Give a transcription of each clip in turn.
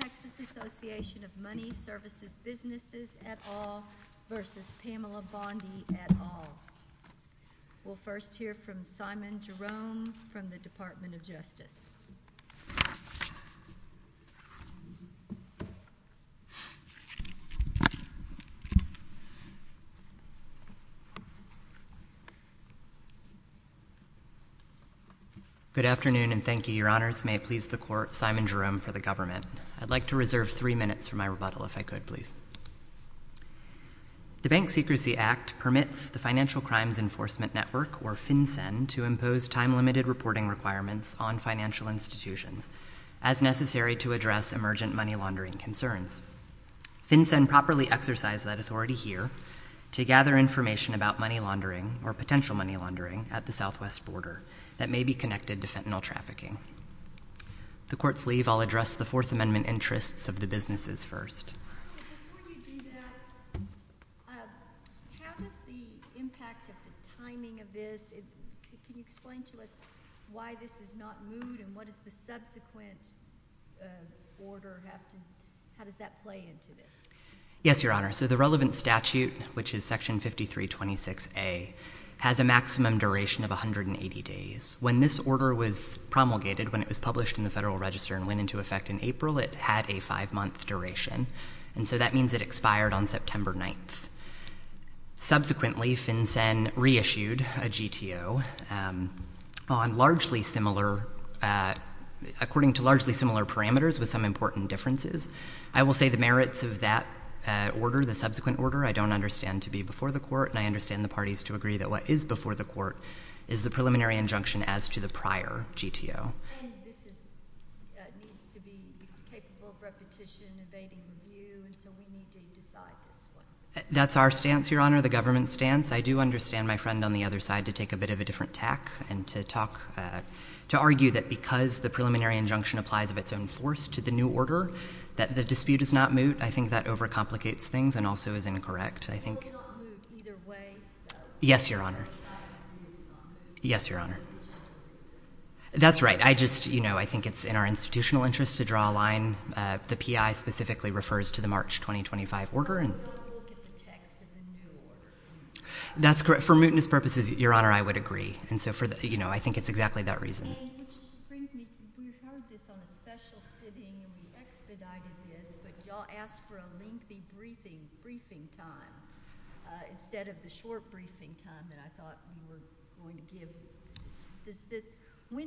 Texas Association of Money Services Businesses, et al. v. Pamela Bondi, et al. We'll first hear from Simon Jerome from the Department of Justice. Good afternoon and thank you. Your Honors, may it please the Court, Simon Jerome for the Government. I'd like to reserve three minutes for my rebuttal, if I could please. The Bank Secrecy Act permits the Financial Crimes Enforcement Network, or FINCEN, to impose time-limited reporting requirements on financial institutions as necessary to address emergent money laundering concerns. FINCEN properly exercised that authority here to gather information about money laundering or potential money laundering at the southwest border that may be connected to fentanyl trafficking. The Court's leave, I'll address the Fourth Amendment interests of the businesses first. Before you do that, how does the impact of the timing of this, can you explain to us why this is not moved and what is the subsequent order, how does that play into this? Yes, Your Honor. So the relevant statute, which is Section 5326A, has a maximum duration of 180 days. When this order was promulgated, when it was published in the Federal Register and went into effect in April, it had a five-month duration. And so that means it expired on September 9th. Subsequently, FINCEN reissued a GTO on largely similar, according to largely similar parameters with some important differences. I will say the merits of that order, the subsequent order, I don't understand to be before the Court and I understand the parties to agree that what is before the Court is the preliminary injunction as to the prior GTO. And this needs to be capable of repetition, evading review, and so we need to decide this one. That's our stance, Your Honor, the government's stance. I do understand my friend on the other side to take a bit of a different tack and to argue that because the preliminary injunction applies of its own force to the new order, that the dispute is not moot. I think that overcomplicates things and also is incorrect, I think. It will not move either way, though. Yes, Your Honor. Yes, Your Honor. That's right. I just, you know, I think it's in our institutional interest to draw a line. The PI specifically refers to the March 2025 order. That's correct. For mootness purposes, Your Honor, I would agree. And so, you know, I think it's exactly that reason. When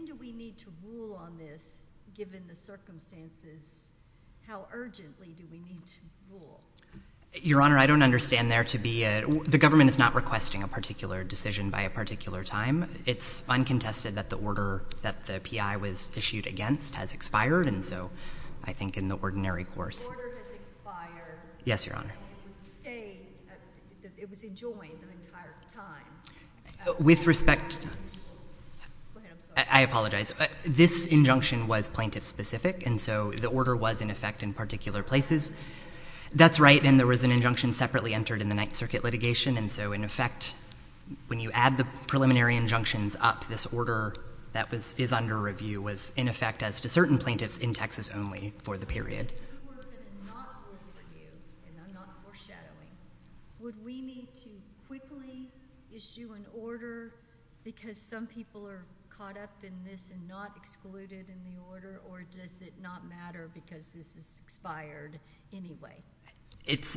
do we need to rule on this, given the circumstances? How urgently do we need to rule? Your Honor, I don't understand there to be a— the government is not requesting a particular decision by a particular time. It's uncontested that the order that the PI was issued against has expired, and so I think in the ordinary course— The order has expired. Yes, Your Honor. It was enjoined the entire time. With respect— Go ahead. I'm sorry. I apologize. This injunction was plaintiff-specific, and so the order was, in effect, in particular places. That's right, and there was an injunction separately entered in the Ninth Circuit litigation, and so, in effect, when you add the preliminary injunctions up, this order that is under review was, in effect, as to certain plaintiffs in Texas only for the period. If this were to not work for you, and I'm not foreshadowing, would we need to quickly issue an order because some people are caught up in this and not excluded in the order, or does it not matter because this has expired anyway?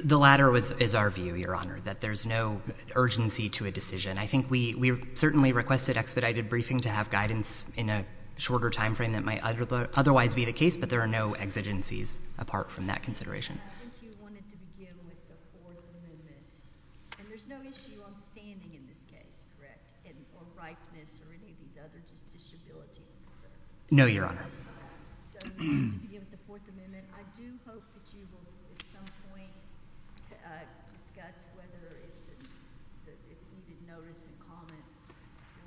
The latter is our view, Your Honor, that there's no urgency to a decision. I think we certainly requested expedited briefing to have guidance in a shorter time frame that might otherwise be the case, but there are no exigencies apart from that consideration. I think you wanted to begin with the Fourth Amendment, and there's no issue on standing in this case, correct, or ripeness or any of these other disabilities. No, Your Honor. So you wanted to begin with the Fourth Amendment. I do hope that you will at some point discuss whether it's— if you did notice a comment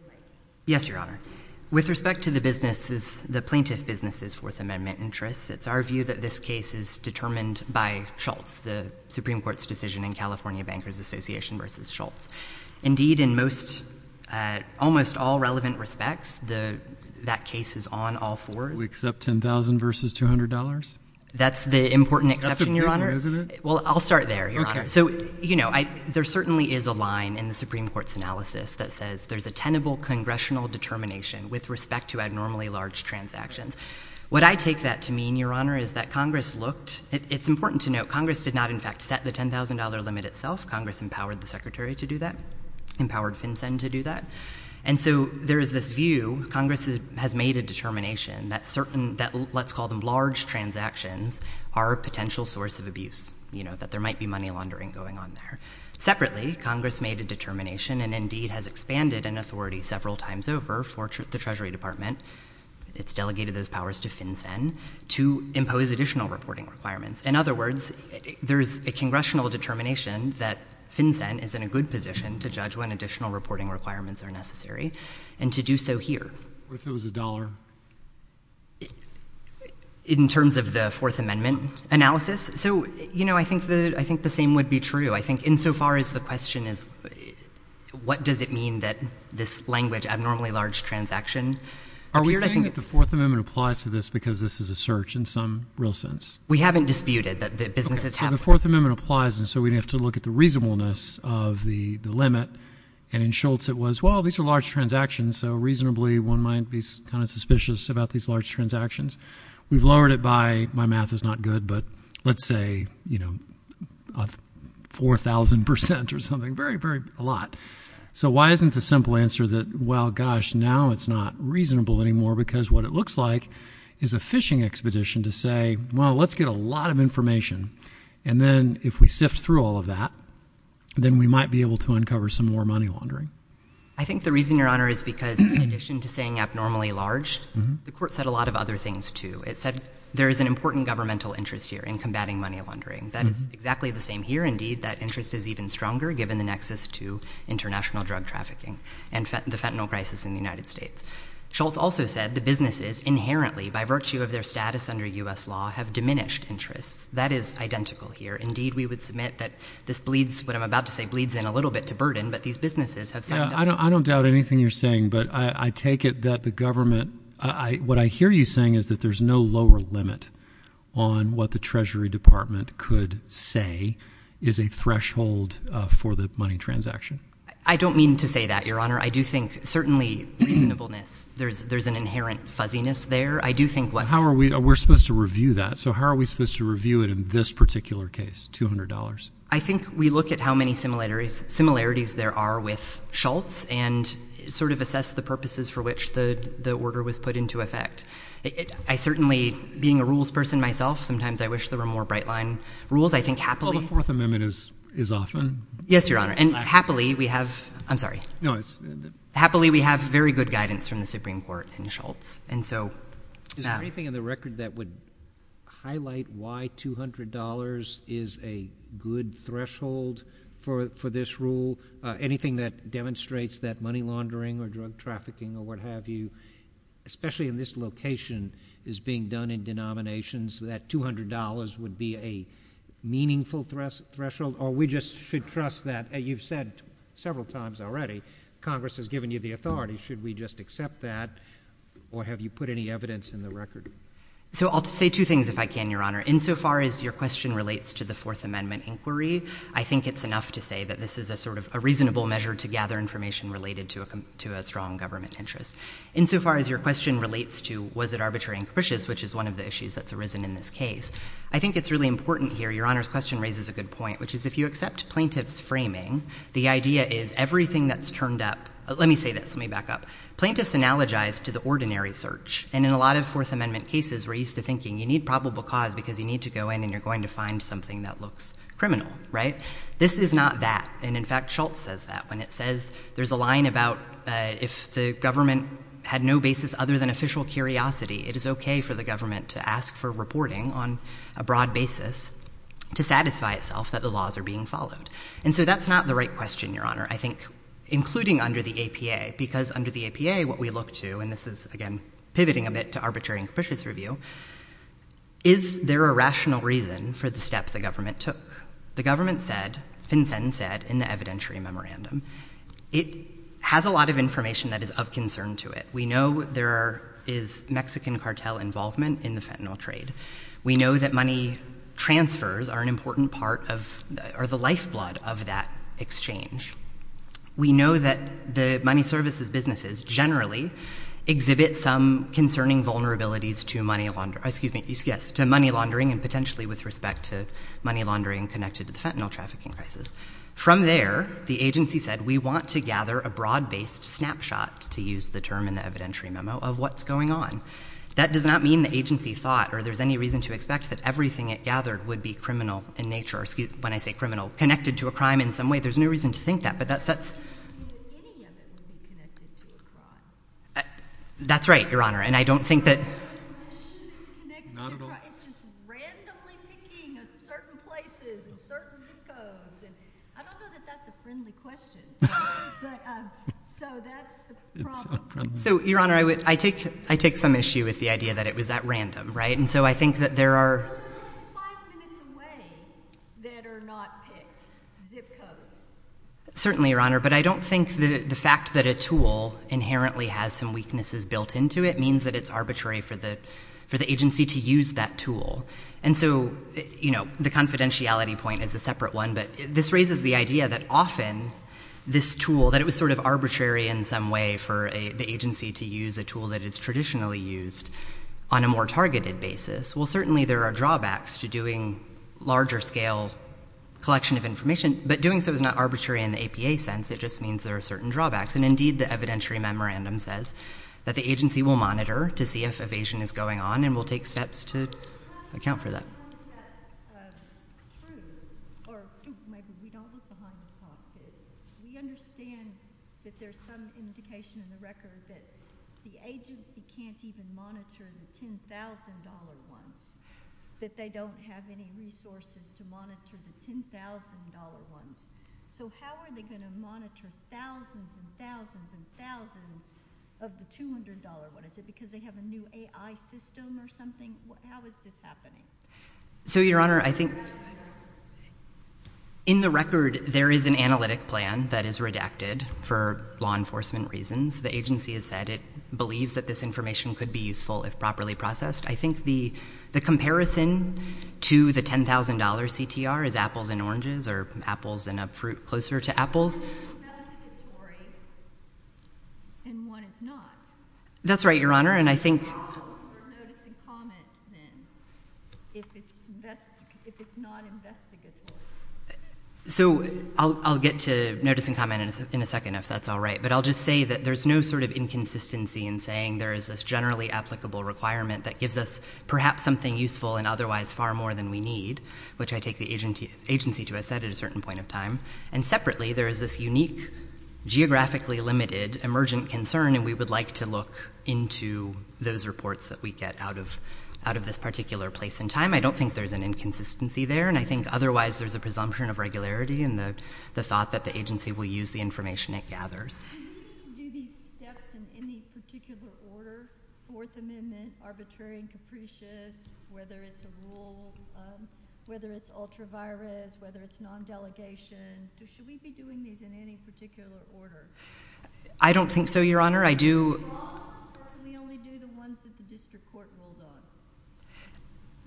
related. Yes, Your Honor. With respect to the plaintiff business's Fourth Amendment interests, it's our view that this case is determined by Schultz, the Supreme Court's decision in California Bankers Association versus Schultz. Indeed, in almost all relevant respects, that case is on all fours. We accept $10,000 versus $200? That's the important exception, Your Honor. That's important, isn't it? Well, I'll start there, Your Honor. Okay. So, you know, there certainly is a line in the Supreme Court's analysis that says there's a tenable congressional determination with respect to abnormally large transactions. What I take that to mean, Your Honor, is that Congress looked— it's important to note Congress did not, in fact, set the $10,000 limit itself. Congress empowered the Secretary to do that, empowered FinCEN to do that. And so there is this view Congress has made a determination that certain— let's call them large transactions are a potential source of abuse, you know, that there might be money laundering going on there. Separately, Congress made a determination and indeed has expanded an authority several times over for the Treasury Department— it's delegated those powers to FinCEN— to impose additional reporting requirements. In other words, there is a congressional determination that FinCEN is in a good position to judge when additional reporting requirements are necessary and to do so here. What if it was a dollar? In terms of the Fourth Amendment analysis? So, you know, I think the same would be true. I think insofar as the question is what does it mean that this language, abnormally large transaction, appeared, I think it's— Are we saying that the Fourth Amendment applies to this because this is a search in some real sense? We haven't disputed that businesses have— Okay, so the Fourth Amendment applies, and so we'd have to look at the reasonableness of the limit. And in Schultz it was, well, these are large transactions, so reasonably one might be kind of suspicious about these large transactions. We've lowered it by—my math is not good, but let's say, you know, 4,000 percent or something, very, very a lot. So why isn't the simple answer that, well, gosh, now it's not reasonable anymore because what it looks like is a phishing expedition to say, well, let's get a lot of information. And then if we sift through all of that, then we might be able to uncover some more money laundering. I think the reason, Your Honor, is because in addition to saying abnormally large, the Court said a lot of other things, too. It said there is an important governmental interest here in combating money laundering. That is exactly the same here, indeed. That interest is even stronger given the nexus to international drug trafficking and the fentanyl crisis in the United States. Schultz also said the businesses inherently, by virtue of their status under U.S. law, have diminished interest. That is identical here. Indeed, we would submit that this bleeds—what I'm about to say bleeds in a little bit to burden, but these businesses have— Yeah, I don't doubt anything you're saying, but I take it that the government— what I hear you saying is that there's no lower limit on what the Treasury Department could say is a threshold for the money transaction. I don't mean to say that, Your Honor. I do think certainly reasonableness, there's an inherent fuzziness there. I do think what— How are we—we're supposed to review that. So how are we supposed to review it in this particular case, $200? I think we look at how many similarities there are with Schultz and sort of assess the purposes for which the order was put into effect. I certainly, being a rules person myself, sometimes I wish there were more bright-line rules. I think happily— Well, the Fourth Amendment is often. Yes, Your Honor. And happily, we have—I'm sorry. No, it's— Happily, we have very good guidance from the Supreme Court in Schultz. Is there anything in the record that would highlight why $200 is a good threshold for this rule? Anything that demonstrates that money laundering or drug trafficking or what have you, especially in this location, is being done in denominations, that $200 would be a meaningful threshold? Or we just should trust that—you've said several times already, Congress has given you the authority. Should we just accept that, or have you put any evidence in the record? So I'll say two things, if I can, Your Honor. Insofar as your question relates to the Fourth Amendment inquiry, I think it's enough to say that this is a sort of a reasonable measure to gather information related to a strong government interest. Insofar as your question relates to was it arbitrary and capricious, which is one of the issues that's arisen in this case, I think it's really important here—Your Honor's question raises a good point, which is if you accept plaintiff's framing, the idea is everything that's turned up— let me say this, let me back up. Plaintiffs analogize to the ordinary search, and in a lot of Fourth Amendment cases we're used to thinking you need probable cause because you need to go in and you're going to find something that looks criminal, right? This is not that. And in fact, Schultz says that when it says there's a line about if the government had no basis other than official curiosity, it is okay for the government to ask for reporting on a broad basis to satisfy itself that the laws are being followed. And so that's not the right question, Your Honor, I think, including under the APA, because under the APA, what we look to—and this is, again, pivoting a bit to arbitrary and capricious review— is there a rational reason for the step the government took? The government said, FinCEN said in the evidentiary memorandum, it has a lot of information that is of concern to it. We know there is Mexican cartel involvement in the fentanyl trade. We know that money transfers are an important part of—are the lifeblood of that exchange. We know that the money services businesses generally exhibit some concerning vulnerabilities to money laundering and potentially with respect to money laundering connected to the fentanyl trafficking crisis. From there, the agency said we want to gather a broad-based snapshot, to use the term in the evidentiary memo, of what's going on. That does not mean the agency thought or there's any reason to expect that everything it gathered would be criminal in nature, or when I say criminal, connected to a crime in some way. There's no reason to think that. But that's— I don't think any of it would be connected to a crime. That's right, Your Honor. And I don't think that— I don't think it's connected to a crime. It's just randomly picking certain places and certain zip codes. And I don't know that that's a friendly question. So that's the problem. It's not friendly. So, Your Honor, I take some issue with the idea that it was at random, right? And so I think that there are— There are those five minutes away that are not picked zip codes. Certainly, Your Honor. But I don't think the fact that a tool inherently has some weaknesses built into it means that it's arbitrary for the agency to use that tool. And so, you know, the confidentiality point is a separate one. But this raises the idea that often this tool, that it was sort of arbitrary in some way for the agency to use a tool that is traditionally used on a more targeted basis. Well, certainly there are drawbacks to doing larger-scale collection of information. But doing so is not arbitrary in the APA sense. It just means there are certain drawbacks. And, indeed, the evidentiary memorandum says that the agency will monitor to see if evasion is going on and will take steps to account for that. I don't know if that's true. Or maybe we don't look behind the clock here. We understand that there's some indication in the record that the agency can't even monitor the $10,000 ones, that they don't have any resources to monitor the $10,000 ones. So how are they going to monitor thousands and thousands and thousands of the $200 ones? Is it because they have a new AI system or something? How is this happening? So, Your Honor, I think in the record, there is an analytic plan that is redacted for law enforcement reasons. The agency has said it believes that this information could be useful if properly processed. I think the comparison to the $10,000 CTR is apples and oranges or apples and a fruit closer to apples. One is statutory and one is not. That's right, Your Honor. So I'll get to notice and comment in a second if that's all right. But I'll just say that there's no sort of inconsistency in saying there is this generally applicable requirement that gives us perhaps something useful and otherwise far more than we need, which I take the agency to have said at a certain point in time. And separately, there is this unique geographically limited emergent concern, and we would like to look into those reports that we get out of this particular place and time. I don't think there's an inconsistency there, and I think otherwise there's a presumption of regularity and the thought that the agency will use the information it gathers. Should we be doing these steps in any particular order, Fourth Amendment, arbitrary and capricious, whether it's a rule, whether it's ultra-virus, whether it's non-delegation? Should we be doing these in any particular order? I don't think so, Your Honor. Why can we only do the ones that the district court ruled on?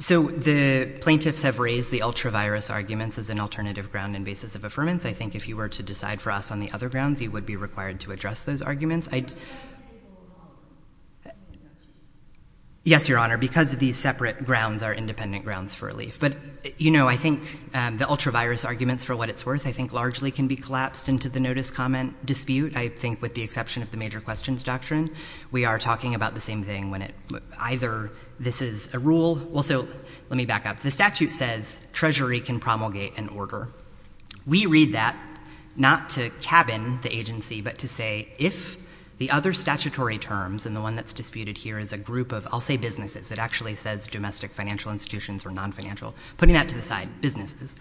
So the plaintiffs have raised the ultra-virus arguments as an alternative ground and basis of affirmance. I think if you were to decide for us on the other grounds, you would be required to address those arguments. I'd— Why would they hold them off? Yes, Your Honor, because these separate grounds are independent grounds for relief. But, you know, I think the ultra-virus arguments, for what it's worth, I think largely can be collapsed into the notice-comment dispute. I think with the exception of the major questions doctrine, we are talking about the same thing when it—either this is a rule—well, so let me back up. The statute says treasury can promulgate an order. We read that not to cabin the agency, but to say if the other statutory terms, and the one that's disputed here is a group of—I'll say businesses. It actually says domestic financial institutions or non-financial. Putting that to the side, businesses.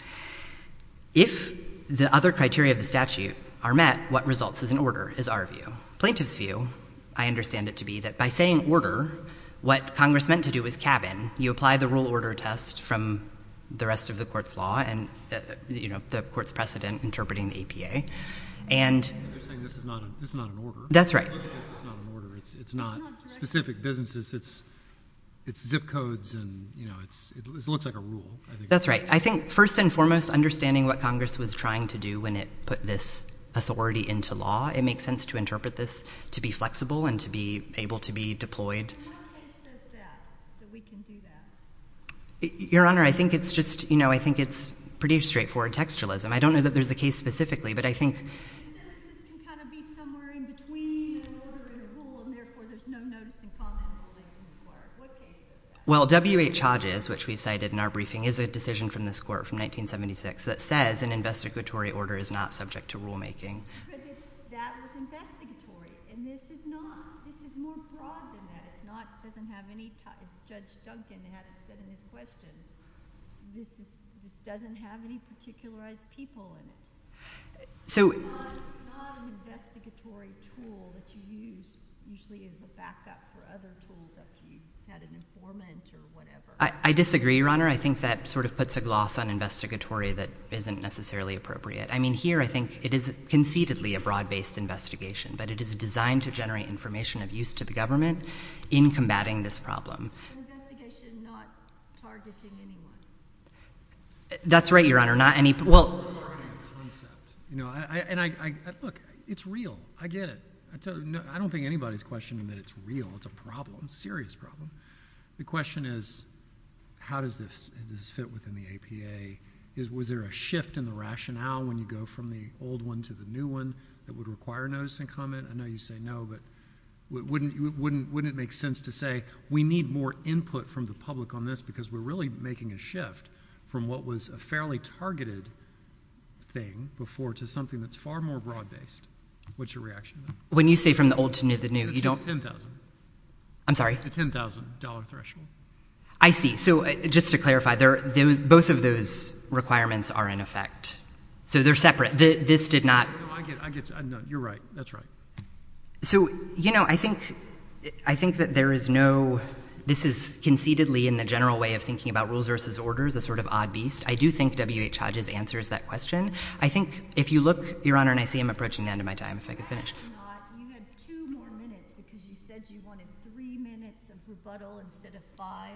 If the other criteria of the statute are met, what results as an order is our view. Plaintiffs' view, I understand it to be that by saying order, what Congress meant to do was cabin. You apply the rule-order test from the rest of the court's law, and, you know, the court's precedent interpreting the APA, and— You're saying this is not an order. That's right. This is not an order. It's not specific businesses. It's zip codes, and, you know, it looks like a rule. That's right. I think first and foremost, understanding what Congress was trying to do when it put this authority into law, it makes sense to interpret this to be flexible and to be able to be deployed. And what case says that, that we can do that? Your Honor, I think it's just, you know, I think it's pretty straightforward textualism. I don't know that there's a case specifically, but I think— It says this can kind of be somewhere in between an order and a rule, and therefore there's no notice in common in the ruling of the court. What case is that? Well, W.H. Hodges, which we've cited in our briefing, is a decision from this court from 1976 that says an investigatory order is not subject to rulemaking. But that was investigatory, and this is not. This is more broad than that. It doesn't have any—as Judge Duncan had said in his question, this doesn't have any particularized people in it. So— It's not an investigatory tool that you use usually as a backup for other tools after you've had an informant or whatever. I disagree, Your Honor. I think that sort of puts a gloss on investigatory that isn't necessarily appropriate. I mean, here I think it is conceitedly a broad-based investigation, but it is designed to generate information of use to the government in combating this problem. An investigation not targeting anyone. That's right, Your Honor. Not any— Not targeting the concept. Look, it's real. I get it. I don't think anybody's questioning that it's real. It's a problem, a serious problem. The question is, how does this fit within the APA? Was there a shift in the rationale when you go from the old one to the new one that would require notice and comment? I know you say no, but wouldn't it make sense to say we need more input from the public on this because we're really making a shift from what was a fairly targeted thing before to something that's far more broad-based? What's your reaction? When you say from the old to the new, you don't— It's the $10,000. I'm sorry? The $10,000 threshold. I see. So just to clarify, both of those requirements are in effect. So they're separate. This did not— No, I get it. You're right. That's right. So, you know, I think that there is no—this is conceitedly in the general way of thinking about rules versus orders, a sort of odd beast. I do think W.H. Hodges answers that question. I think if you look, Your Honor, and I see I'm approaching the end of my time. If I could finish. You have two more minutes because you said you wanted three minutes of rebuttal instead of five.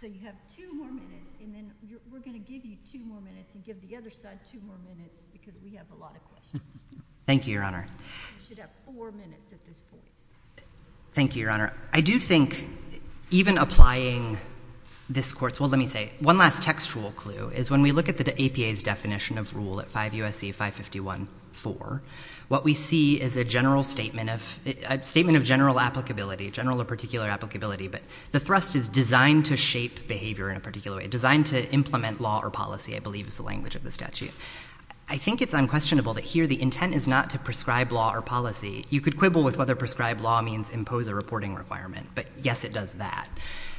So you have two more minutes, and then we're going to give you two more minutes and give the other side two more minutes because we have a lot of questions. Thank you, Your Honor. You should have four minutes at this point. Thank you, Your Honor. I do think even applying this court's—well, let me say, one last textual clue is when we look at the APA's definition of rule at 5 U.S.C. 551.4, what we see is a general statement of—a statement of general applicability, general or particular applicability, but the thrust is designed to shape behavior in a particular way, designed to implement law or policy, I believe is the language of the statute. I think it's unquestionable that here the intent is not to prescribe law or policy. You could quibble with whether prescribe law means impose a reporting requirement, but yes, it does that.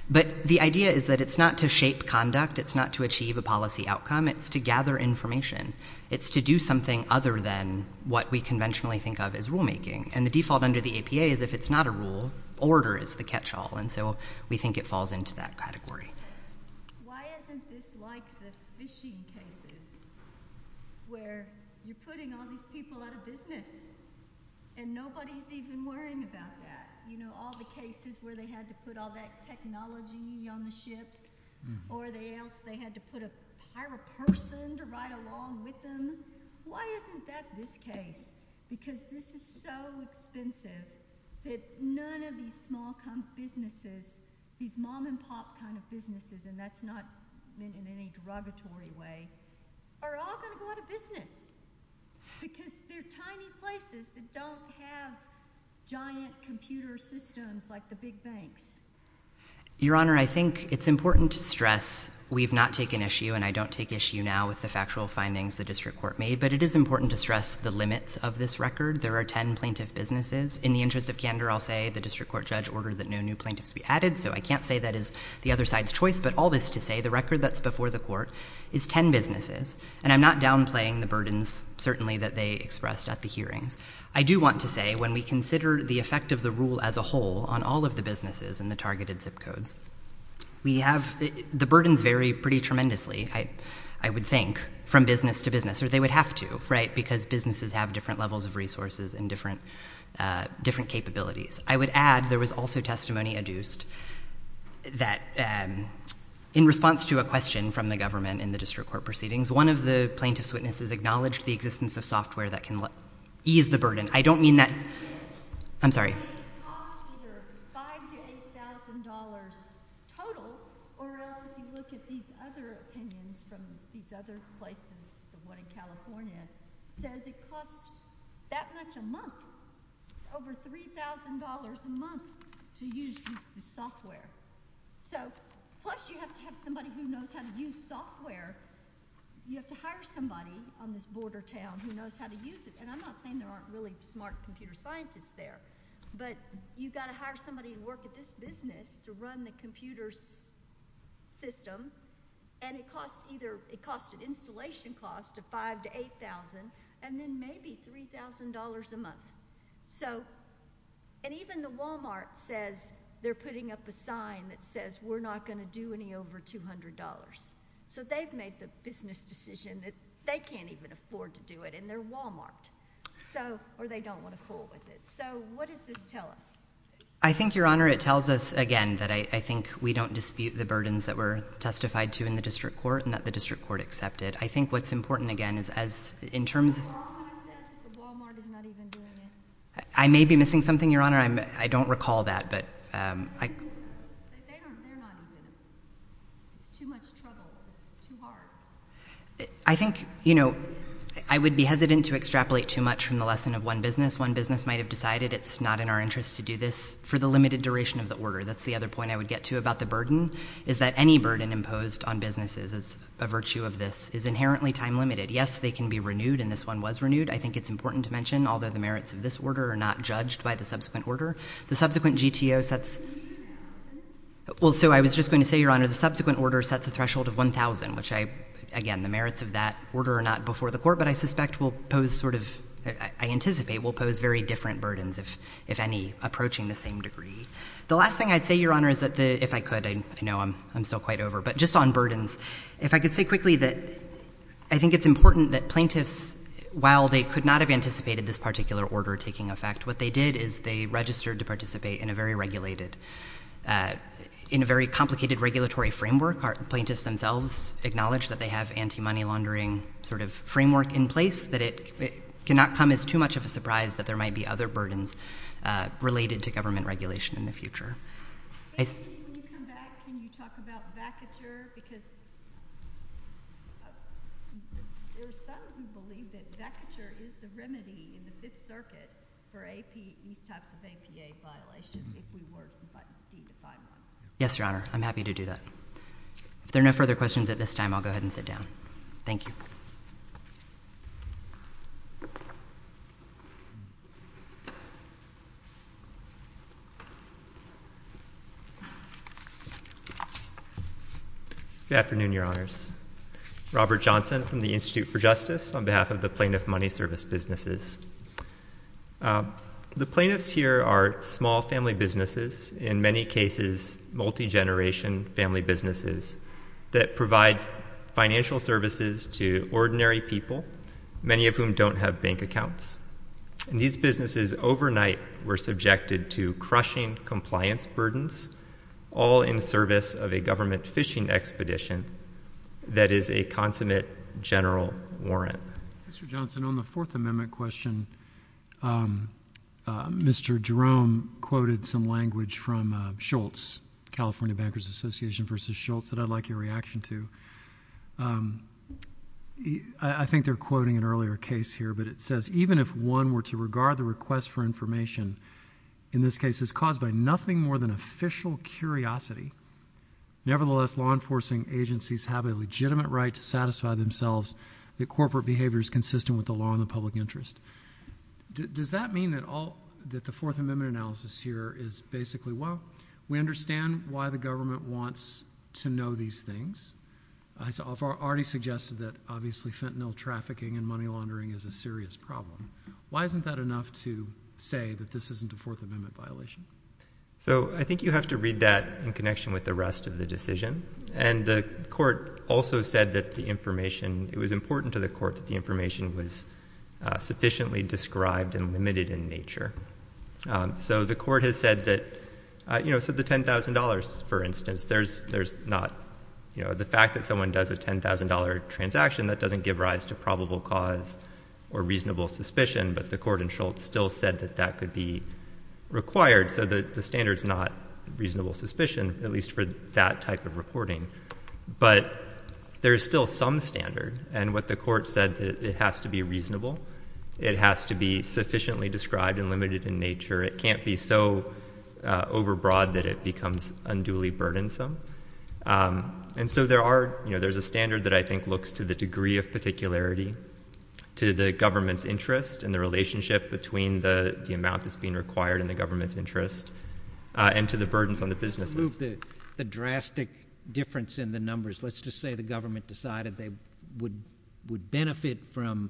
But the idea is that it's not to shape conduct. It's not to achieve a policy outcome. It's to gather information. It's to do something other than what we conventionally think of as rulemaking, and the default under the APA is if it's not a rule, order is the catch-all, and so we think it falls into that category. Why isn't this like the fishing cases where you're putting all these people out of business and nobody's even worrying about that? You know, all the cases where they had to put all that technology on the ships or they had to hire a person to ride along with them. Why isn't that this case? Because this is so expensive that none of these small businesses, these mom-and-pop kind of businesses, and that's not in any derogatory way, are all going to go out of business because they're tiny places that don't have giant computer systems like the big banks. Your Honor, I think it's important to stress we've not taken issue, and I don't take issue now with the factual findings the district court made, but it is important to stress the limits of this record. There are ten plaintiff businesses. In the interest of candor, I'll say the district court judge ordered that no new plaintiffs be added, so I can't say that is the other side's choice, but all this to say the record that's before the court is ten businesses, and I'm not downplaying the burdens certainly that they expressed at the hearings. I do want to say when we consider the effect of the rule as a whole on all of the businesses and the targeted zip codes, the burdens vary pretty tremendously, I would think, from business to business, or they would have to, right, because businesses have different levels of resources and different capabilities. I would add there was also testimony adduced that in response to a question from the government in the district court proceedings, one of the plaintiff's witnesses acknowledged the existence of software that can ease the burden. I don't mean that. I'm sorry. I think it costs either $5,000 to $8,000 total, or else if you look at these other opinions from these other places, the one in California says it costs that much a month, over $3,000 a month to use the software. So plus you have to have somebody who knows how to use software. You have to hire somebody on this border town who knows how to use it, and I'm not saying there aren't really smart computer scientists there, but you've got to hire somebody who works at this business to run the computer system, and it costs either an installation cost of $5,000 to $8,000, and then maybe $3,000 a month. And even the Wal-Mart says they're putting up a sign that says we're not going to do any over $200. So they've made the business decision that they can't even afford to do it, and they're Wal-Mart, or they don't want to cool with it. So what does this tell us? I think, Your Honor, it tells us, again, that I think we don't dispute the burdens that were testified to in the district court and that the district court accepted. I think what's important, again, is as in terms of the Wal-Mart is not even doing it. I may be missing something, Your Honor. I don't recall that. But they're not doing it. It's too much trouble. It's too hard. I think I would be hesitant to extrapolate too much from the lesson of one business. One business might have decided it's not in our interest to do this for the limited duration of the order. That's the other point I would get to about the burden, is that any burden imposed on businesses as a virtue of this is inherently time-limited. Yes, they can be renewed, and this one was renewed. I think it's important to mention, although the merits of this order are not judged by the subsequent order, the subsequent GTO sets... Well, so I was just going to say, Your Honor, the subsequent order sets a threshold of 1,000, which I, again, the merits of that order are not before the court, but I suspect will pose sort of, I anticipate will pose very different burdens, if any, approaching the same degree. The last thing I'd say, Your Honor, is that if I could, I know I'm still quite over, but just on burdens, if I could say quickly that I think it's important that plaintiffs, while they could not have anticipated this particular order taking effect, what they did is they registered to participate in a very regulated, in a very complicated regulatory framework. Plaintiffs themselves acknowledge that they have anti-money laundering sort of framework in place, that it cannot come as too much of a surprise that there might be other burdens related to government regulation in the future. When you come back, can you talk about vacature? Because there is some who believe that vacature is the remedy in the Fifth Circuit for these types of APA violations, if we were to be defined on it. Yes, Your Honor, I'm happy to do that. If there are no further questions at this time, I'll go ahead and sit down. Thank you. Good afternoon, Your Honors. Robert Johnson from the Institute for Justice on behalf of the Plaintiff Money Service Businesses. The plaintiffs here are small family businesses, in many cases, multi-generation family businesses that provide financial services to ordinary people, many of whom don't have bank accounts. And these businesses overnight were subjected to crushing compliance burdens, all in service of a government fishing expedition that is a consummate general warrant. Mr. Johnson, on the Fourth Amendment question, Mr. Jerome quoted some language from Schultz, California Bankers Association v. Schultz, that I'd like your reaction to. I think they're quoting an earlier case here, but it says, even if one were to regard the request for information, in this case, as caused by nothing more than official curiosity, nevertheless law enforcing agencies have a legitimate right to satisfy themselves that corporate behavior is consistent with the law and the public interest. Does that mean that the Fourth Amendment analysis here is basically, well, we understand why the government wants to know these things. I've already suggested that, obviously, fentanyl trafficking and money laundering is a serious problem. Why isn't that enough to say that this isn't a Fourth Amendment violation? So I think you have to read that in connection with the rest of the decision. And the Court also said that the information, it was important to the Court that the information was sufficiently described and limited in nature. So the Court has said that, you know, so the $10,000, for instance, there's not, you know, the fact that someone does a $10,000 transaction, that doesn't give rise to probable cause or reasonable suspicion, but the Court in Schultz still said that that could be required, so the standard's not reasonable suspicion, at least for that type of reporting. But there is still some standard, and what the Court said, it has to be reasonable, it has to be sufficiently described and limited in nature, it can't be so overbroad that it becomes unduly burdensome. And so there are, you know, there's a standard that I think looks to the degree of particularity, to the government's interest and the relationship between the amount that's being required and the government's interest, and to the burdens on the businesses. To remove the drastic difference in the numbers, let's just say the government decided they would benefit from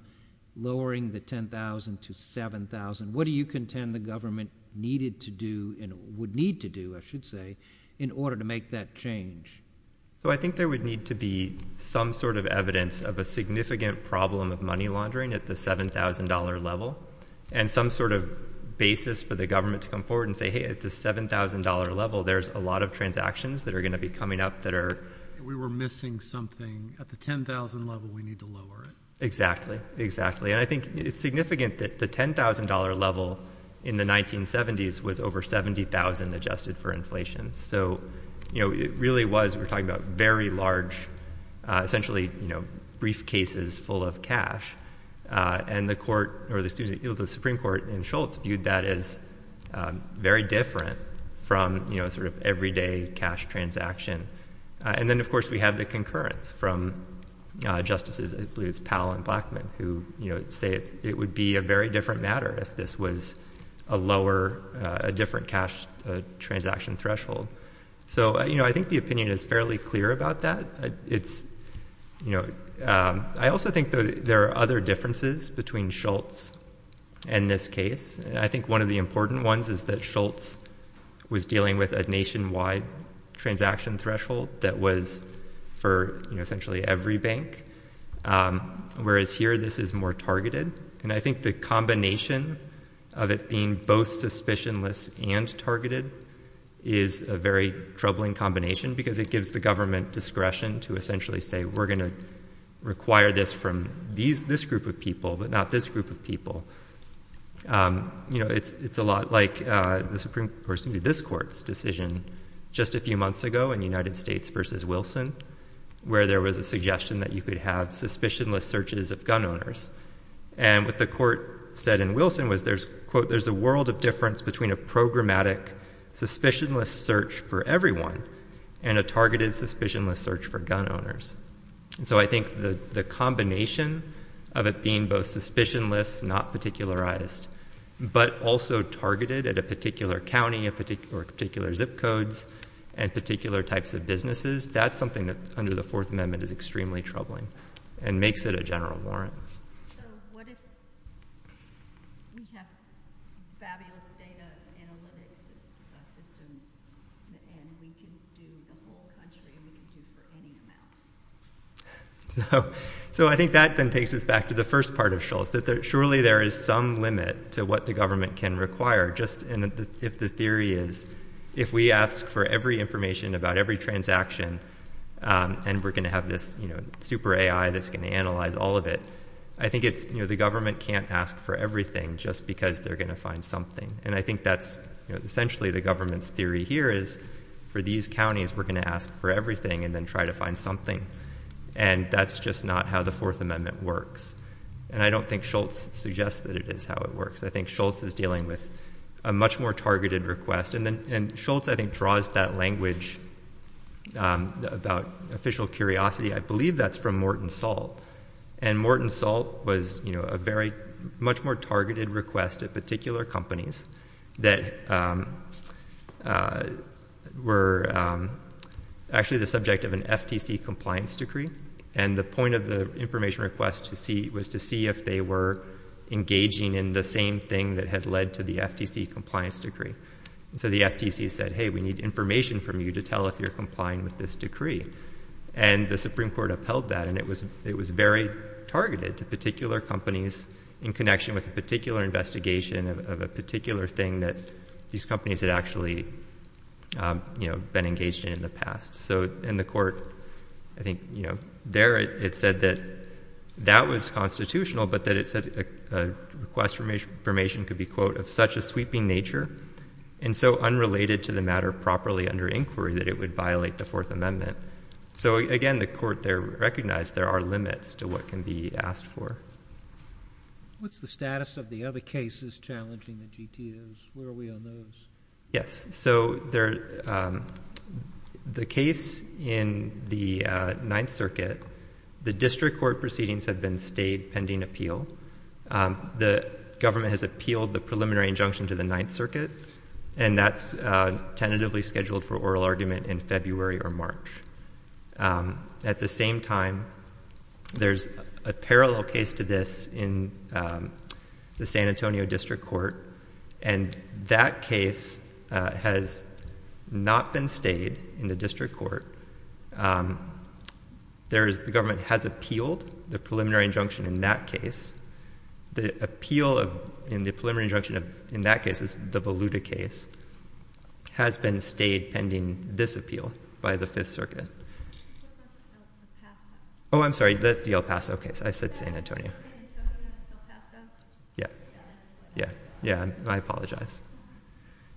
lowering the $10,000 to $7,000. What do you contend the government needed to do and would need to do, I should say, in order to make that change? So I think there would need to be some sort of evidence of a significant problem of money laundering at the $7,000 level and some sort of basis for the government to come forward and say, hey, at the $7,000 level there's a lot of transactions that are going to be coming up that are— We were missing something at the $10,000 level, we need to lower it. Exactly, exactly. And I think it's significant that the $10,000 level in the 1970s was over $70,000 adjusted for inflation. So, you know, it really was, we're talking about very large, essentially, you know, briefcases full of cash. And the Supreme Court in Shultz viewed that as very different from, you know, sort of everyday cash transaction. And then, of course, we have the concurrence from justices, I believe it's Powell and Blackman, who, you know, say it would be a very different matter if this was a lower, a different cash transaction threshold. So, you know, I think the opinion is fairly clear about that. It's, you know, I also think there are other differences between Shultz and this case. And I think one of the important ones is that Shultz was dealing with a nationwide transaction threshold that was for, you know, essentially every bank, whereas here this is more targeted. And I think the combination of it being both suspicionless and targeted is a very troubling combination because it gives the government discretion to essentially say, we're going to require this from this group of people, but not this group of people. You know, it's a lot like the Supreme Court's decision just a few months ago in United States v. Wilson, where there was a suggestion that you could have suspicionless searches of gun owners. And what the court said in Wilson was there's, quote, So I think the combination of it being both suspicionless, not particularized, but also targeted at a particular county or particular zip codes and particular types of businesses, that's something that under the Fourth Amendment is extremely troubling and makes it a general warrant. So what if we have fabulous data analytics systems and we can do the whole country, and we can do it for any amount? So I think that then takes us back to the first part of Shultz, that surely there is some limit to what the government can require, just if the theory is, if we ask for every information about every transaction and we're going to have this super AI that's going to analyze all of it, I think it's, you know, the government can't ask for everything just because they're going to find something. And I think that's essentially the government's theory here is for these counties, we're going to ask for everything and then try to find something. And that's just not how the Fourth Amendment works. And I don't think Shultz suggests that it is how it works. I think Shultz is dealing with a much more targeted request. And Shultz, I think, draws that language about official curiosity. I believe that's from Morton Salt. And Morton Salt was a much more targeted request at particular companies that were actually the subject of an FTC compliance decree. And the point of the information request was to see if they were engaging in the same thing that had led to the FTC compliance decree. So the FTC said, hey, we need information from you to tell if you're complying with this decree. And the Supreme Court upheld that, and it was very targeted to particular companies in connection with a particular investigation of a particular thing that these companies had actually, you know, been engaged in in the past. So in the court, I think, you know, there it said that that was constitutional, but that it said a request for information could be, quote, of such a sweeping nature and so unrelated to the matter properly under inquiry that it would violate the Fourth Amendment. So, again, the court there recognized there are limits to what can be asked for. What's the status of the other cases challenging the GTOs? Where are we on those? Yes. So the case in the Ninth Circuit, the district court proceedings have been stayed pending appeal. The government has appealed the preliminary injunction to the Ninth Circuit, and that's tentatively scheduled for oral argument in February or March. At the same time, there's a parallel case to this in the San Antonio district court, and that case has not been stayed in the district court. The government has appealed the preliminary injunction in that case. The appeal in the preliminary injunction in that case, the Voluta case, has been stayed pending this appeal by the Fifth Circuit. Oh, I'm sorry. That's the El Paso case. I said San Antonio. Yeah. Yeah. Yeah. I apologize.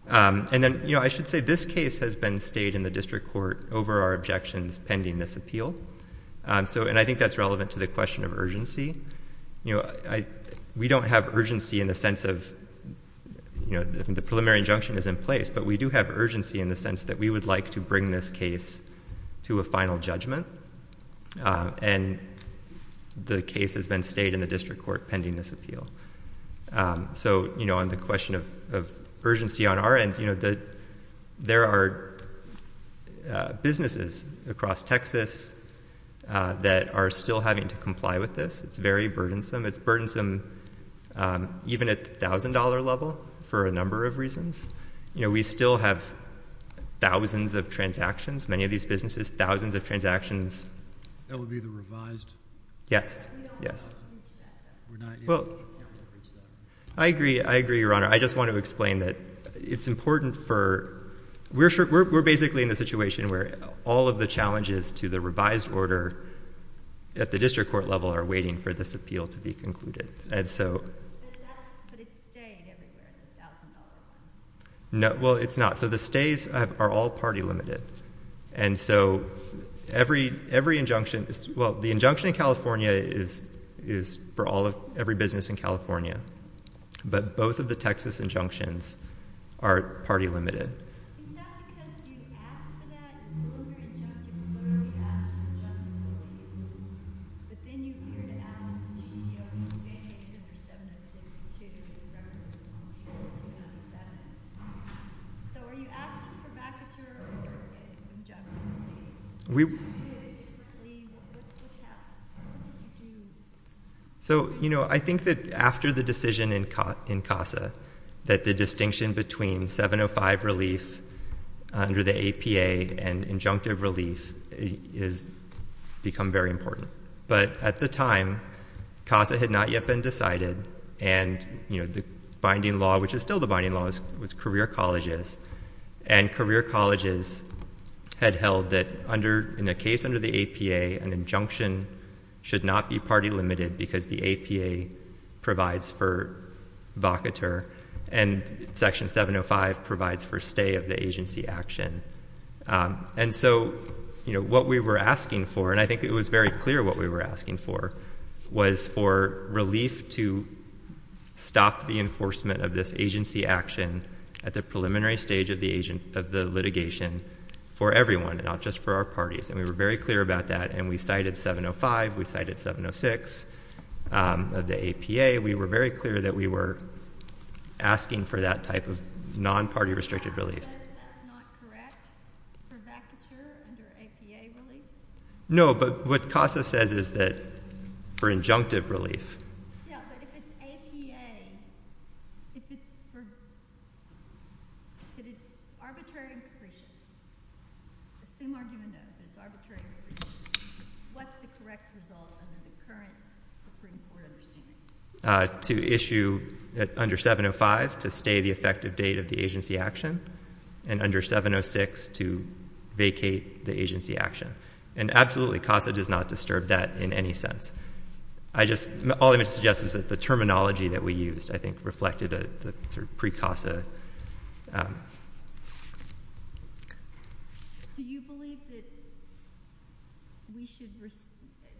And then, you know, I should say this case has been stayed in the district court over our objections pending this appeal. And I think that's relevant to the question of urgency. We don't have urgency in the sense of the preliminary injunction is in place, but we do have urgency in the sense that we would like to bring this case to a final judgment, and the case has been stayed in the district court pending this appeal. So, you know, on the question of urgency on our end, you know, there are businesses across Texas that are still having to comply with this. It's very burdensome. It's burdensome even at the $1,000 level for a number of reasons. You know, we still have thousands of transactions, many of these businesses, thousands of transactions. That would be the revised? Yes. Yes. Well, I agree. I agree, Your Honor. I just want to explain that it's important for we're basically in the situation where all of the challenges to the revised order at the district court level are waiting for this appeal to be concluded. And so. But it's stayed everywhere at the $1,000 level. No. Well, it's not. So the stays are all party limited. And so every injunction, well, the injunction in California is for every business in California. But both of the Texas injunctions are party limited. It's not because you asked for that injunction. You literally asked for the injunction. But then you heard Alan from GTO. You mandated under 706. So are you asking for backer or injunction? We. What's happening? So, you know, I think that after the decision in CASA that the distinction between 705 relief under the APA and injunctive relief has become very important. But at the time, CASA had not yet been decided. And, you know, the binding law, which is still the binding law, was career colleges. And career colleges had held that in a case under the APA, an injunction should not be party limited because the APA provides for vocateur and Section 705 provides for stay of the agency action. And so, you know, what we were asking for, and I think it was very clear what we were asking for, was for relief to stop the enforcement of this agency action at the preliminary stage of the litigation for everyone, not just for our parties. And we were very clear about that. And we cited 705. We cited 706 of the APA. We were very clear that we were asking for that type of non-party restricted relief. That's not correct for vacature under APA relief? No, but what CASA says is that for injunctive relief. Yeah, but if it's APA, if it's for, if it's arbitrary and capricious, assume argument that it's arbitrary and capricious, what's the correct result under the current Supreme Court understanding? To issue under 705 to stay the effective date of the agency action and under 706 to vacate the agency action. And absolutely, CASA does not disturb that in any sense. I just, all I'm going to suggest is that the terminology that we used, I think, reflected a sort of pre-CASA. Do you believe that we should,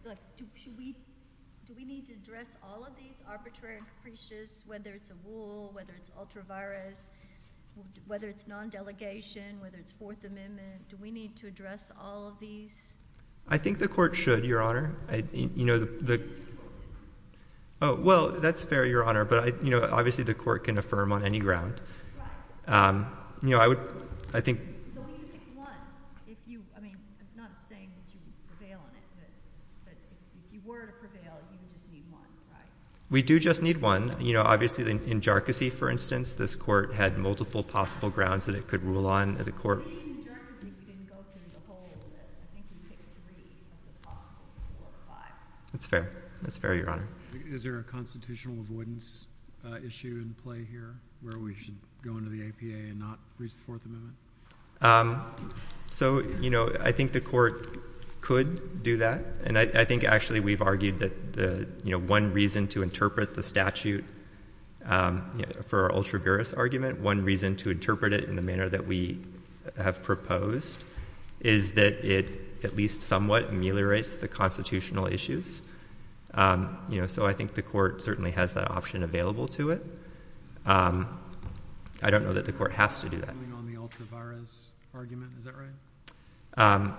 like, do we need to address all of these arbitrary and capricious, whether it's a rule, whether it's ultra-virus, whether it's non-delegation, whether it's Fourth Amendment, do we need to address all of these? I think the court should, Your Honor. Well, that's fair, Your Honor, but, you know, obviously the court can affirm on any ground. Right. You know, I would, I think. So we need to pick one, if you, I mean, I'm not saying that you prevail on it, but if you were to prevail, you would just need one, right? We do just need one. You know, obviously in jarczy, for instance, this court had multiple possible grounds that it could rule on the court. Being in jarczy, you didn't go through the whole list. I think you picked three of the possible four or five. That's fair. That's fair, Your Honor. Is there a constitutional avoidance issue in play here where we should go into the APA and not reach the Fourth Amendment? So, you know, I think the court could do that, and I think actually we've argued that, you know, one reason to interpret the statute for our ultra virus argument, one reason to interpret it in the manner that we have proposed is that it at least somewhat ameliorates the constitutional issues. You know, so I think the court certainly has that option available to it. I don't know that the court has to do that. Moving on the ultra virus argument, is that right?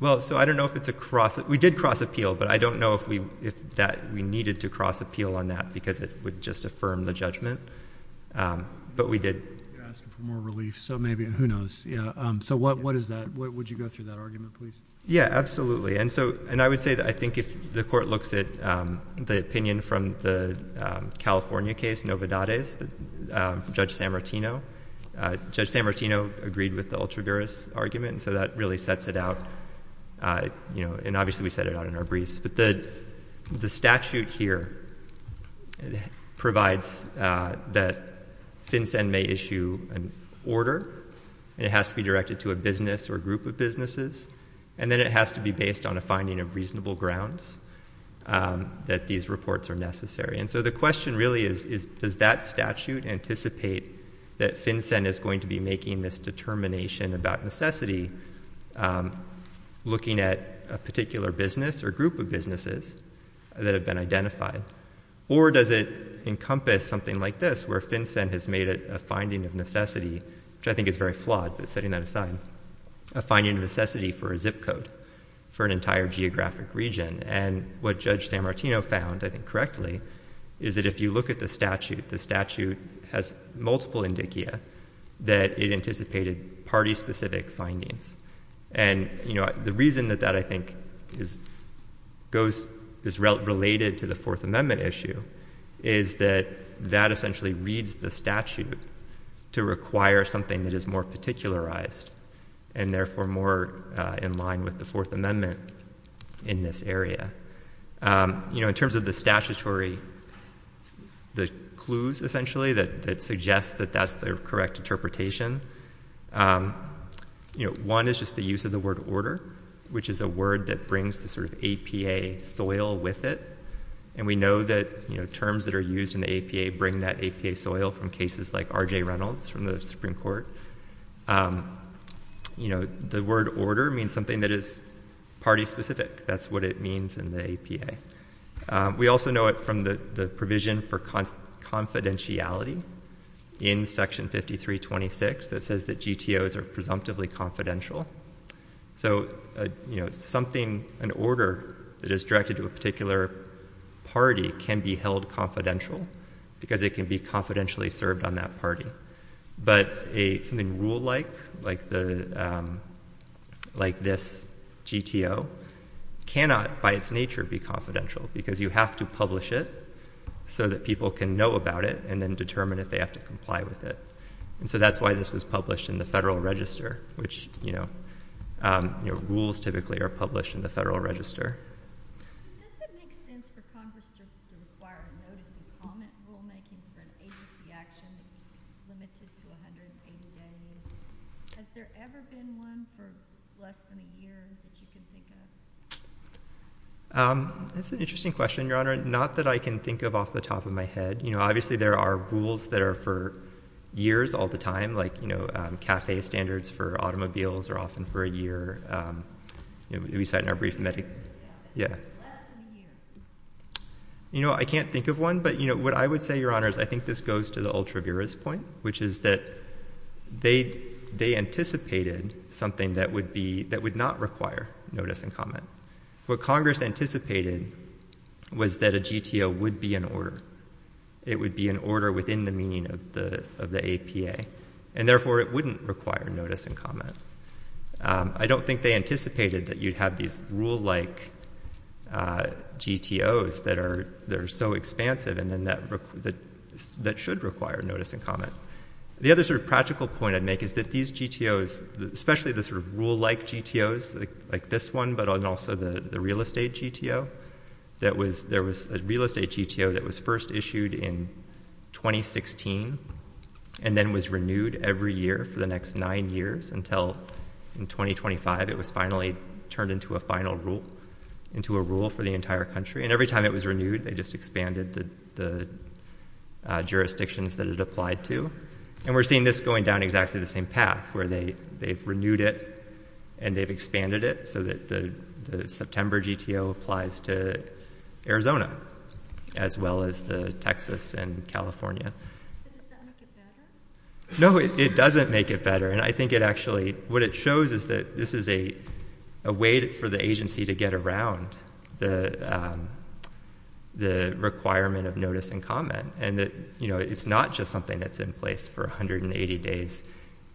Well, so I don't know if it's a cross. We did cross appeal, but I don't know if we if that we needed to cross appeal on that because it would just affirm the judgment. But we did ask for more relief. So maybe who knows? Yeah. So what what is that? Would you go through that argument, please? Yeah, absolutely. And so and I would say that I think if the court looks at the opinion from the California case, Nova Dades, Judge San Martino, agreed with the ultra virus argument. So that really sets it out. You know, and obviously we set it out in our briefs. But the statute here provides that FinCEN may issue an order and it has to be directed to a business or a group of businesses. And then it has to be based on a finding of reasonable grounds that these reports are necessary. And so the question really is, is does that statute anticipate that FinCEN is going to be making this determination about necessity, looking at a particular business or group of businesses that have been identified? Or does it encompass something like this where FinCEN has made it a finding of necessity, which I think is very flawed, but setting that aside, a finding necessity for a zip code for an entire geographic region. And what Judge San Martino found, I think correctly, is that if you look at the statute, the statute has multiple indicia that it anticipated party-specific findings. And, you know, the reason that that, I think, goes, is related to the Fourth Amendment issue, is that that essentially reads the statute to require something that is more particularized and therefore more in line with the Fourth Amendment in this area. You know, in terms of the statutory, the clues essentially that suggest that that's the correct interpretation, you know, one is just the use of the word order, which is a word that brings the sort of APA soil with it. And we know that, you know, terms that are used in the APA bring that APA soil from cases like R.J. Reynolds from the Supreme Court. You know, the word order means something that is party-specific. That's what it means in the APA. We also know it from the provision for confidentiality in Section 5326 that says that GTOs are presumptively confidential. So, you know, something, an order that is directed to a particular party can be held confidential because it can be confidentially served on that party. But something rule-like, like this GTO, cannot by its nature be confidential because you have to publish it so that people can know about it and then determine if they have to comply with it. And so that's why this was published in the Federal Register, which, you know, rules typically are published in the Federal Register. Does it make sense for Congress to require a notice of comment rulemaking for an agency action limited to 180 days? Has there ever been one for less than a year that you can think of? That's an interesting question, Your Honor, not that I can think of off the top of my head. You know, obviously, there are rules that are for years all the time, like, you know, CAFE standards for automobiles are often for a year. We cite in our brief, yeah. Less than a year. You know, I can't think of one, but, you know, what I would say, Your Honor, is I think this goes to the Ultra-Viris point, which is that they anticipated something that would be, that would not require notice and comment. What Congress anticipated was that a GTO would be in order. It would be in order within the meaning of the APA, and, therefore, it wouldn't require notice and comment. I don't think they anticipated that you'd have these rule-like GTOs that are so expansive and then that should require notice and comment. The other sort of practical point I'd make is that these GTOs, especially the sort of rule-like GTOs, like this one, but also the real estate GTO, there was a real estate GTO that was first issued in 2016 and then was renewed every year for the next nine years until, in 2025, it was finally turned into a final rule, into a rule for the entire country. And every time it was renewed, they just expanded the jurisdictions that it applied to. And we're seeing this going down exactly the same path, where they've renewed it and they've expanded it so that the September GTO applies to Arizona as well as to Texas and California. Does that make it better? No, it doesn't make it better, and I think it actually, what it shows is that this is a way for the agency to get around the requirement of notice and comment and that it's not just something that's in place for 180 days.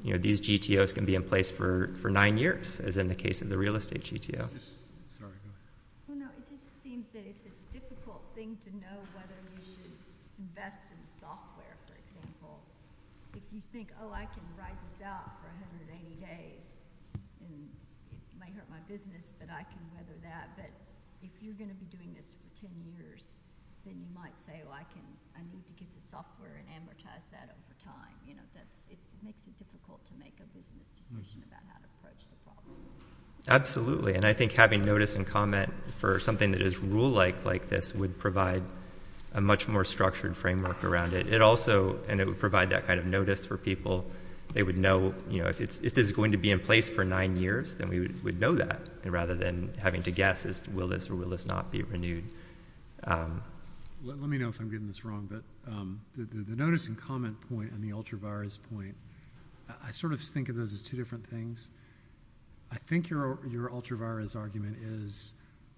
These GTOs can be in place for nine years, as in the case of the real estate GTO. It just seems that it's a difficult thing to know whether we should invest in software, for example. If you think, oh, I can ride this out for 180 days and it might hurt my business, but I can weather that. But if you're going to be doing this for 10 years, then you might say, oh, I need to get the software and amortize that over time. It makes it difficult to make a business decision about how to approach the problem. Absolutely, and I think having notice and comment for something that is rule-like like this would provide a much more structured framework around it. It also would provide that kind of notice for people. They would know if it's going to be in place for nine years, then we would know that, rather than having to guess, will this or will this not be renewed. Let me know if I'm getting this wrong, but the notice and comment point and the ultra-virus point, I sort of think of those as two different things. I think your ultra-virus argument is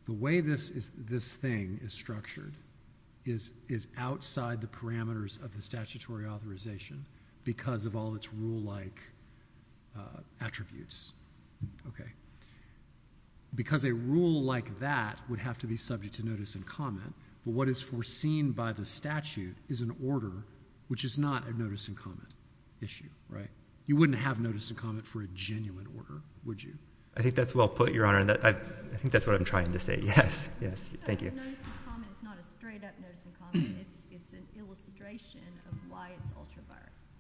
the way this thing is structured is outside the parameters of the statutory authorization because of all its rule-like attributes. Because a rule like that would have to be subject to notice and comment, what is foreseen by the statute is an order, which is not a notice and comment issue. You wouldn't have notice and comment for a genuine order, would you? I think that's well put, Your Honor, and I think that's what I'm trying to say. A notice and comment is not a straight-up notice and comment. It's an illustration of why it's ultra-virus.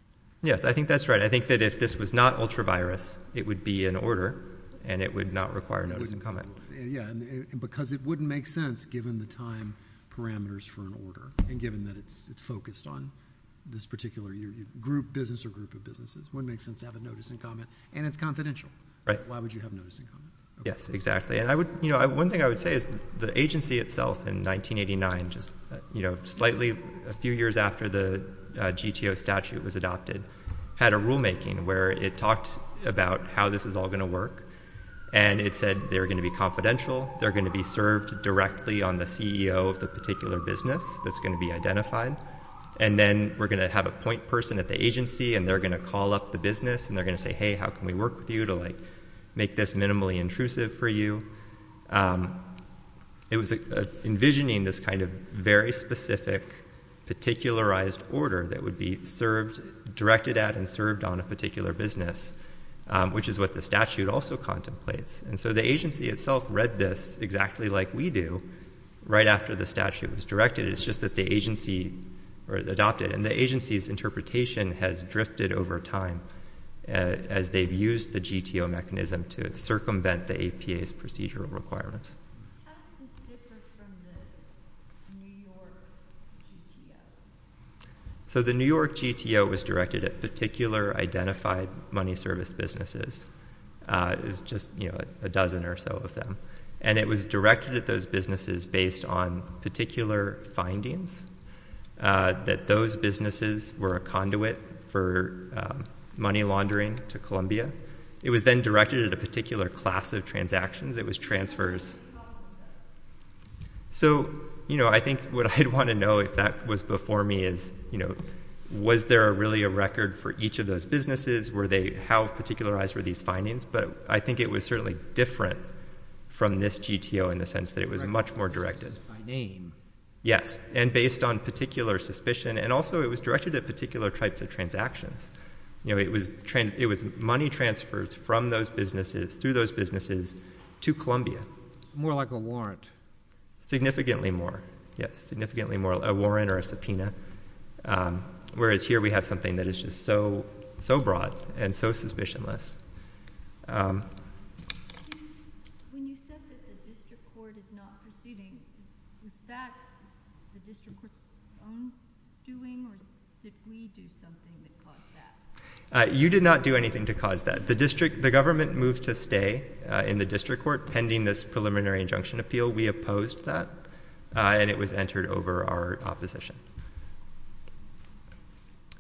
Yes, I think that's right. I think that if this was not ultra-virus, it would be an order, and it would not require notice and comment. Because it wouldn't make sense given the time parameters for an order and given that it's focused on this particular group of businesses. It wouldn't make sense to have a notice and comment, and it's confidential. Why would you have notice and comment? Yes, exactly. One thing I would say is the agency itself in 1989, just slightly a few years after the GTO statute was adopted, had a rulemaking where it talked about how this is all going to work, and it said they're going to be confidential, they're going to be served directly on the CEO of the particular business that's going to be identified, and then we're going to have a point person at the agency, and they're going to call up the business, and they're going to say, hey, how can we work with you to make this minimally intrusive for you? It was envisioning this kind of very specific particularized order that would be served, directed at, and served on a particular business, which is what the statute also contemplates. And so the agency itself read this exactly like we do right after the statute was directed. It's just that the agency adopted it, and the agency's interpretation has drifted over time as they've used the GTO mechanism to circumvent the APA's procedural requirements. How is this different from the New York GTO? So the New York GTO was directed at particular identified money service businesses. It was just a dozen or so of them, and it was directed at those businesses based on particular findings, that those businesses were a conduit for money laundering to Columbia. It was then directed at a particular class of transactions. It was transfers. So I think what I'd want to know if that was before me is, was there really a record for each of those businesses? How particularized were these findings? But I think it was certainly different from this GTO in the sense that it was much more directed. Yes, and based on particular suspicion, and also it was directed at particular types of transactions. It was money transfers from those businesses, through those businesses, to Columbia. More like a warrant. Significantly more, yes. Significantly more a warrant or a subpoena, whereas here we have something that is just so broad and so suspicionless. When you said that the district court is not proceeding, is that the district court's own doing, or did we do something to cause that? You did not do anything to cause that. The district, the government moved to stay in the district court pending this preliminary injunction appeal. We opposed that, and it was entered over our opposition.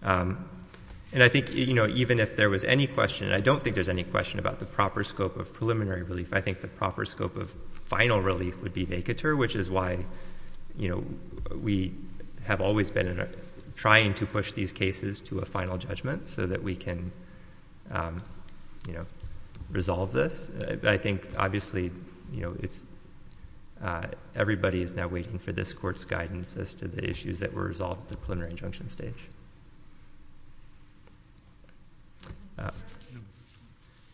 And I think, you know, even if there was any question, and I don't think there's any question about the proper scope of preliminary relief, I think the proper scope of final relief would be vacatur, which is why we have always been trying to push these cases to a final judgment so that we can resolve this. I think, obviously, everybody is now waiting for this court's guidance as to the issues that were resolved at the preliminary injunction stage.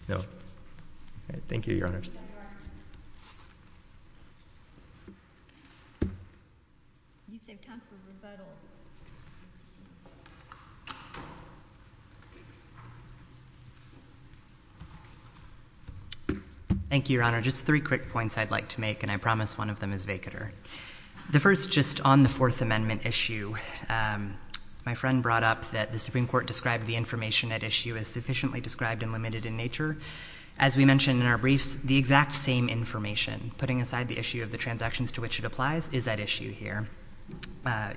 No? Thank you, Your Honors. Thank you, Your Honor. Just three quick points I'd like to make, and I promise one of them is vacatur. The first, just on the Fourth Amendment issue, my friend brought up that the Supreme Court described the information at issue as sufficiently described and limited in nature. As we mentioned in our briefs, the exact same information, putting aside the issue of the transactions to which it applies, is at issue here.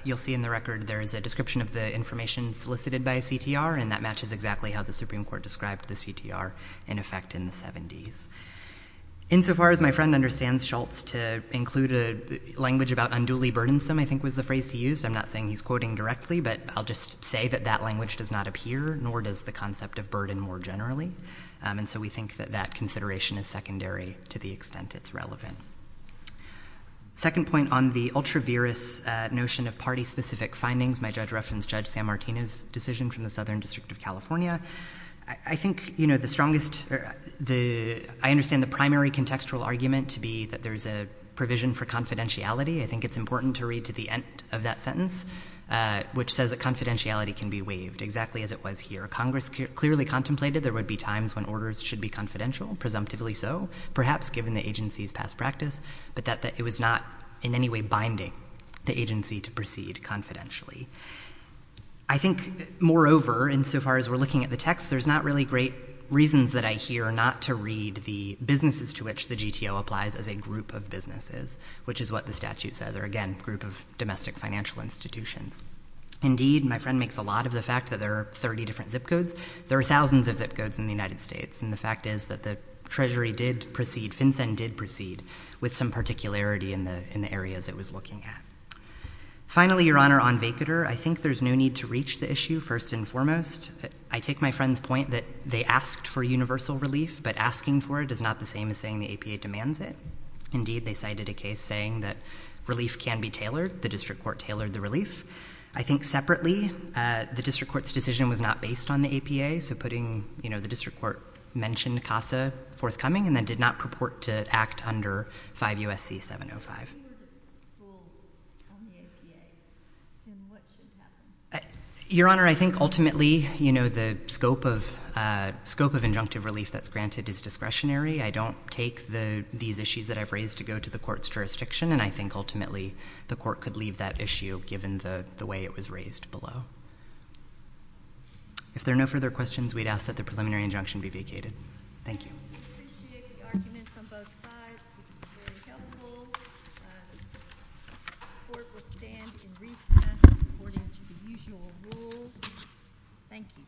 You'll see in the record there is a description of the information solicited by CTR, and that matches exactly how the Supreme Court described the CTR in effect in the 70s. Insofar as my friend understands, Schultz, to include a language about unduly burdensome, I think, was the phrase to use. I'm not saying he's quoting directly, but I'll just say that that language does not appear, nor does the concept of burden more generally, and so we think that that consideration is secondary to the extent it's relevant. Second point, on the ultra-virus notion of party-specific findings, my judge referenced Judge San Martino's decision from the Southern District of California. I think the strongest—I understand the primary contextual argument to be that there's a provision for confidentiality. I think it's important to read to the end of that sentence, which says that confidentiality can be waived, exactly as it was here. Congress clearly contemplated there would be times when orders should be confidential, presumptively so, perhaps given the agency's past practice, but that it was not in any way binding the agency to proceed confidentially. I think, moreover, insofar as we're looking at the text, there's not really great reasons that I hear not to read the businesses to which the GTO applies as a group of businesses, which is what the statute says, or again, group of domestic financial institutions. Indeed, my friend makes a lot of the fact that there are 30 different ZIP codes. There are thousands of ZIP codes in the United States, and the fact is that the Treasury did proceed, FinCEN did proceed, with some particularity in the areas it was looking at. Finally, Your Honor, on VCDR, I think there's no need to reach the issue, first and foremost. I take my friend's point that they asked for universal relief, but asking for it is not the same as saying the APA demands it. Indeed, they cited a case saying that relief can be tailored. The district court tailored the relief. I think, separately, the district court's decision was not based on the APA, so putting, you know, the district court mentioned CASA forthcoming, and then did not purport to act under 5 U.S.C. 705. Your Honor, I think, ultimately, you know, the scope of injunctive relief that's granted is discretionary. I don't take these issues that I've raised to go to the court's jurisdiction, and I think, ultimately, the court could leave that issue, given the way it was raised below. If there are no further questions, we'd ask that the preliminary injunction be vacated. Thank you. I appreciate the arguments on both sides. It's very helpful. The court will stand in recess, according to the usual rule. Thank you. Thank you. Thank you.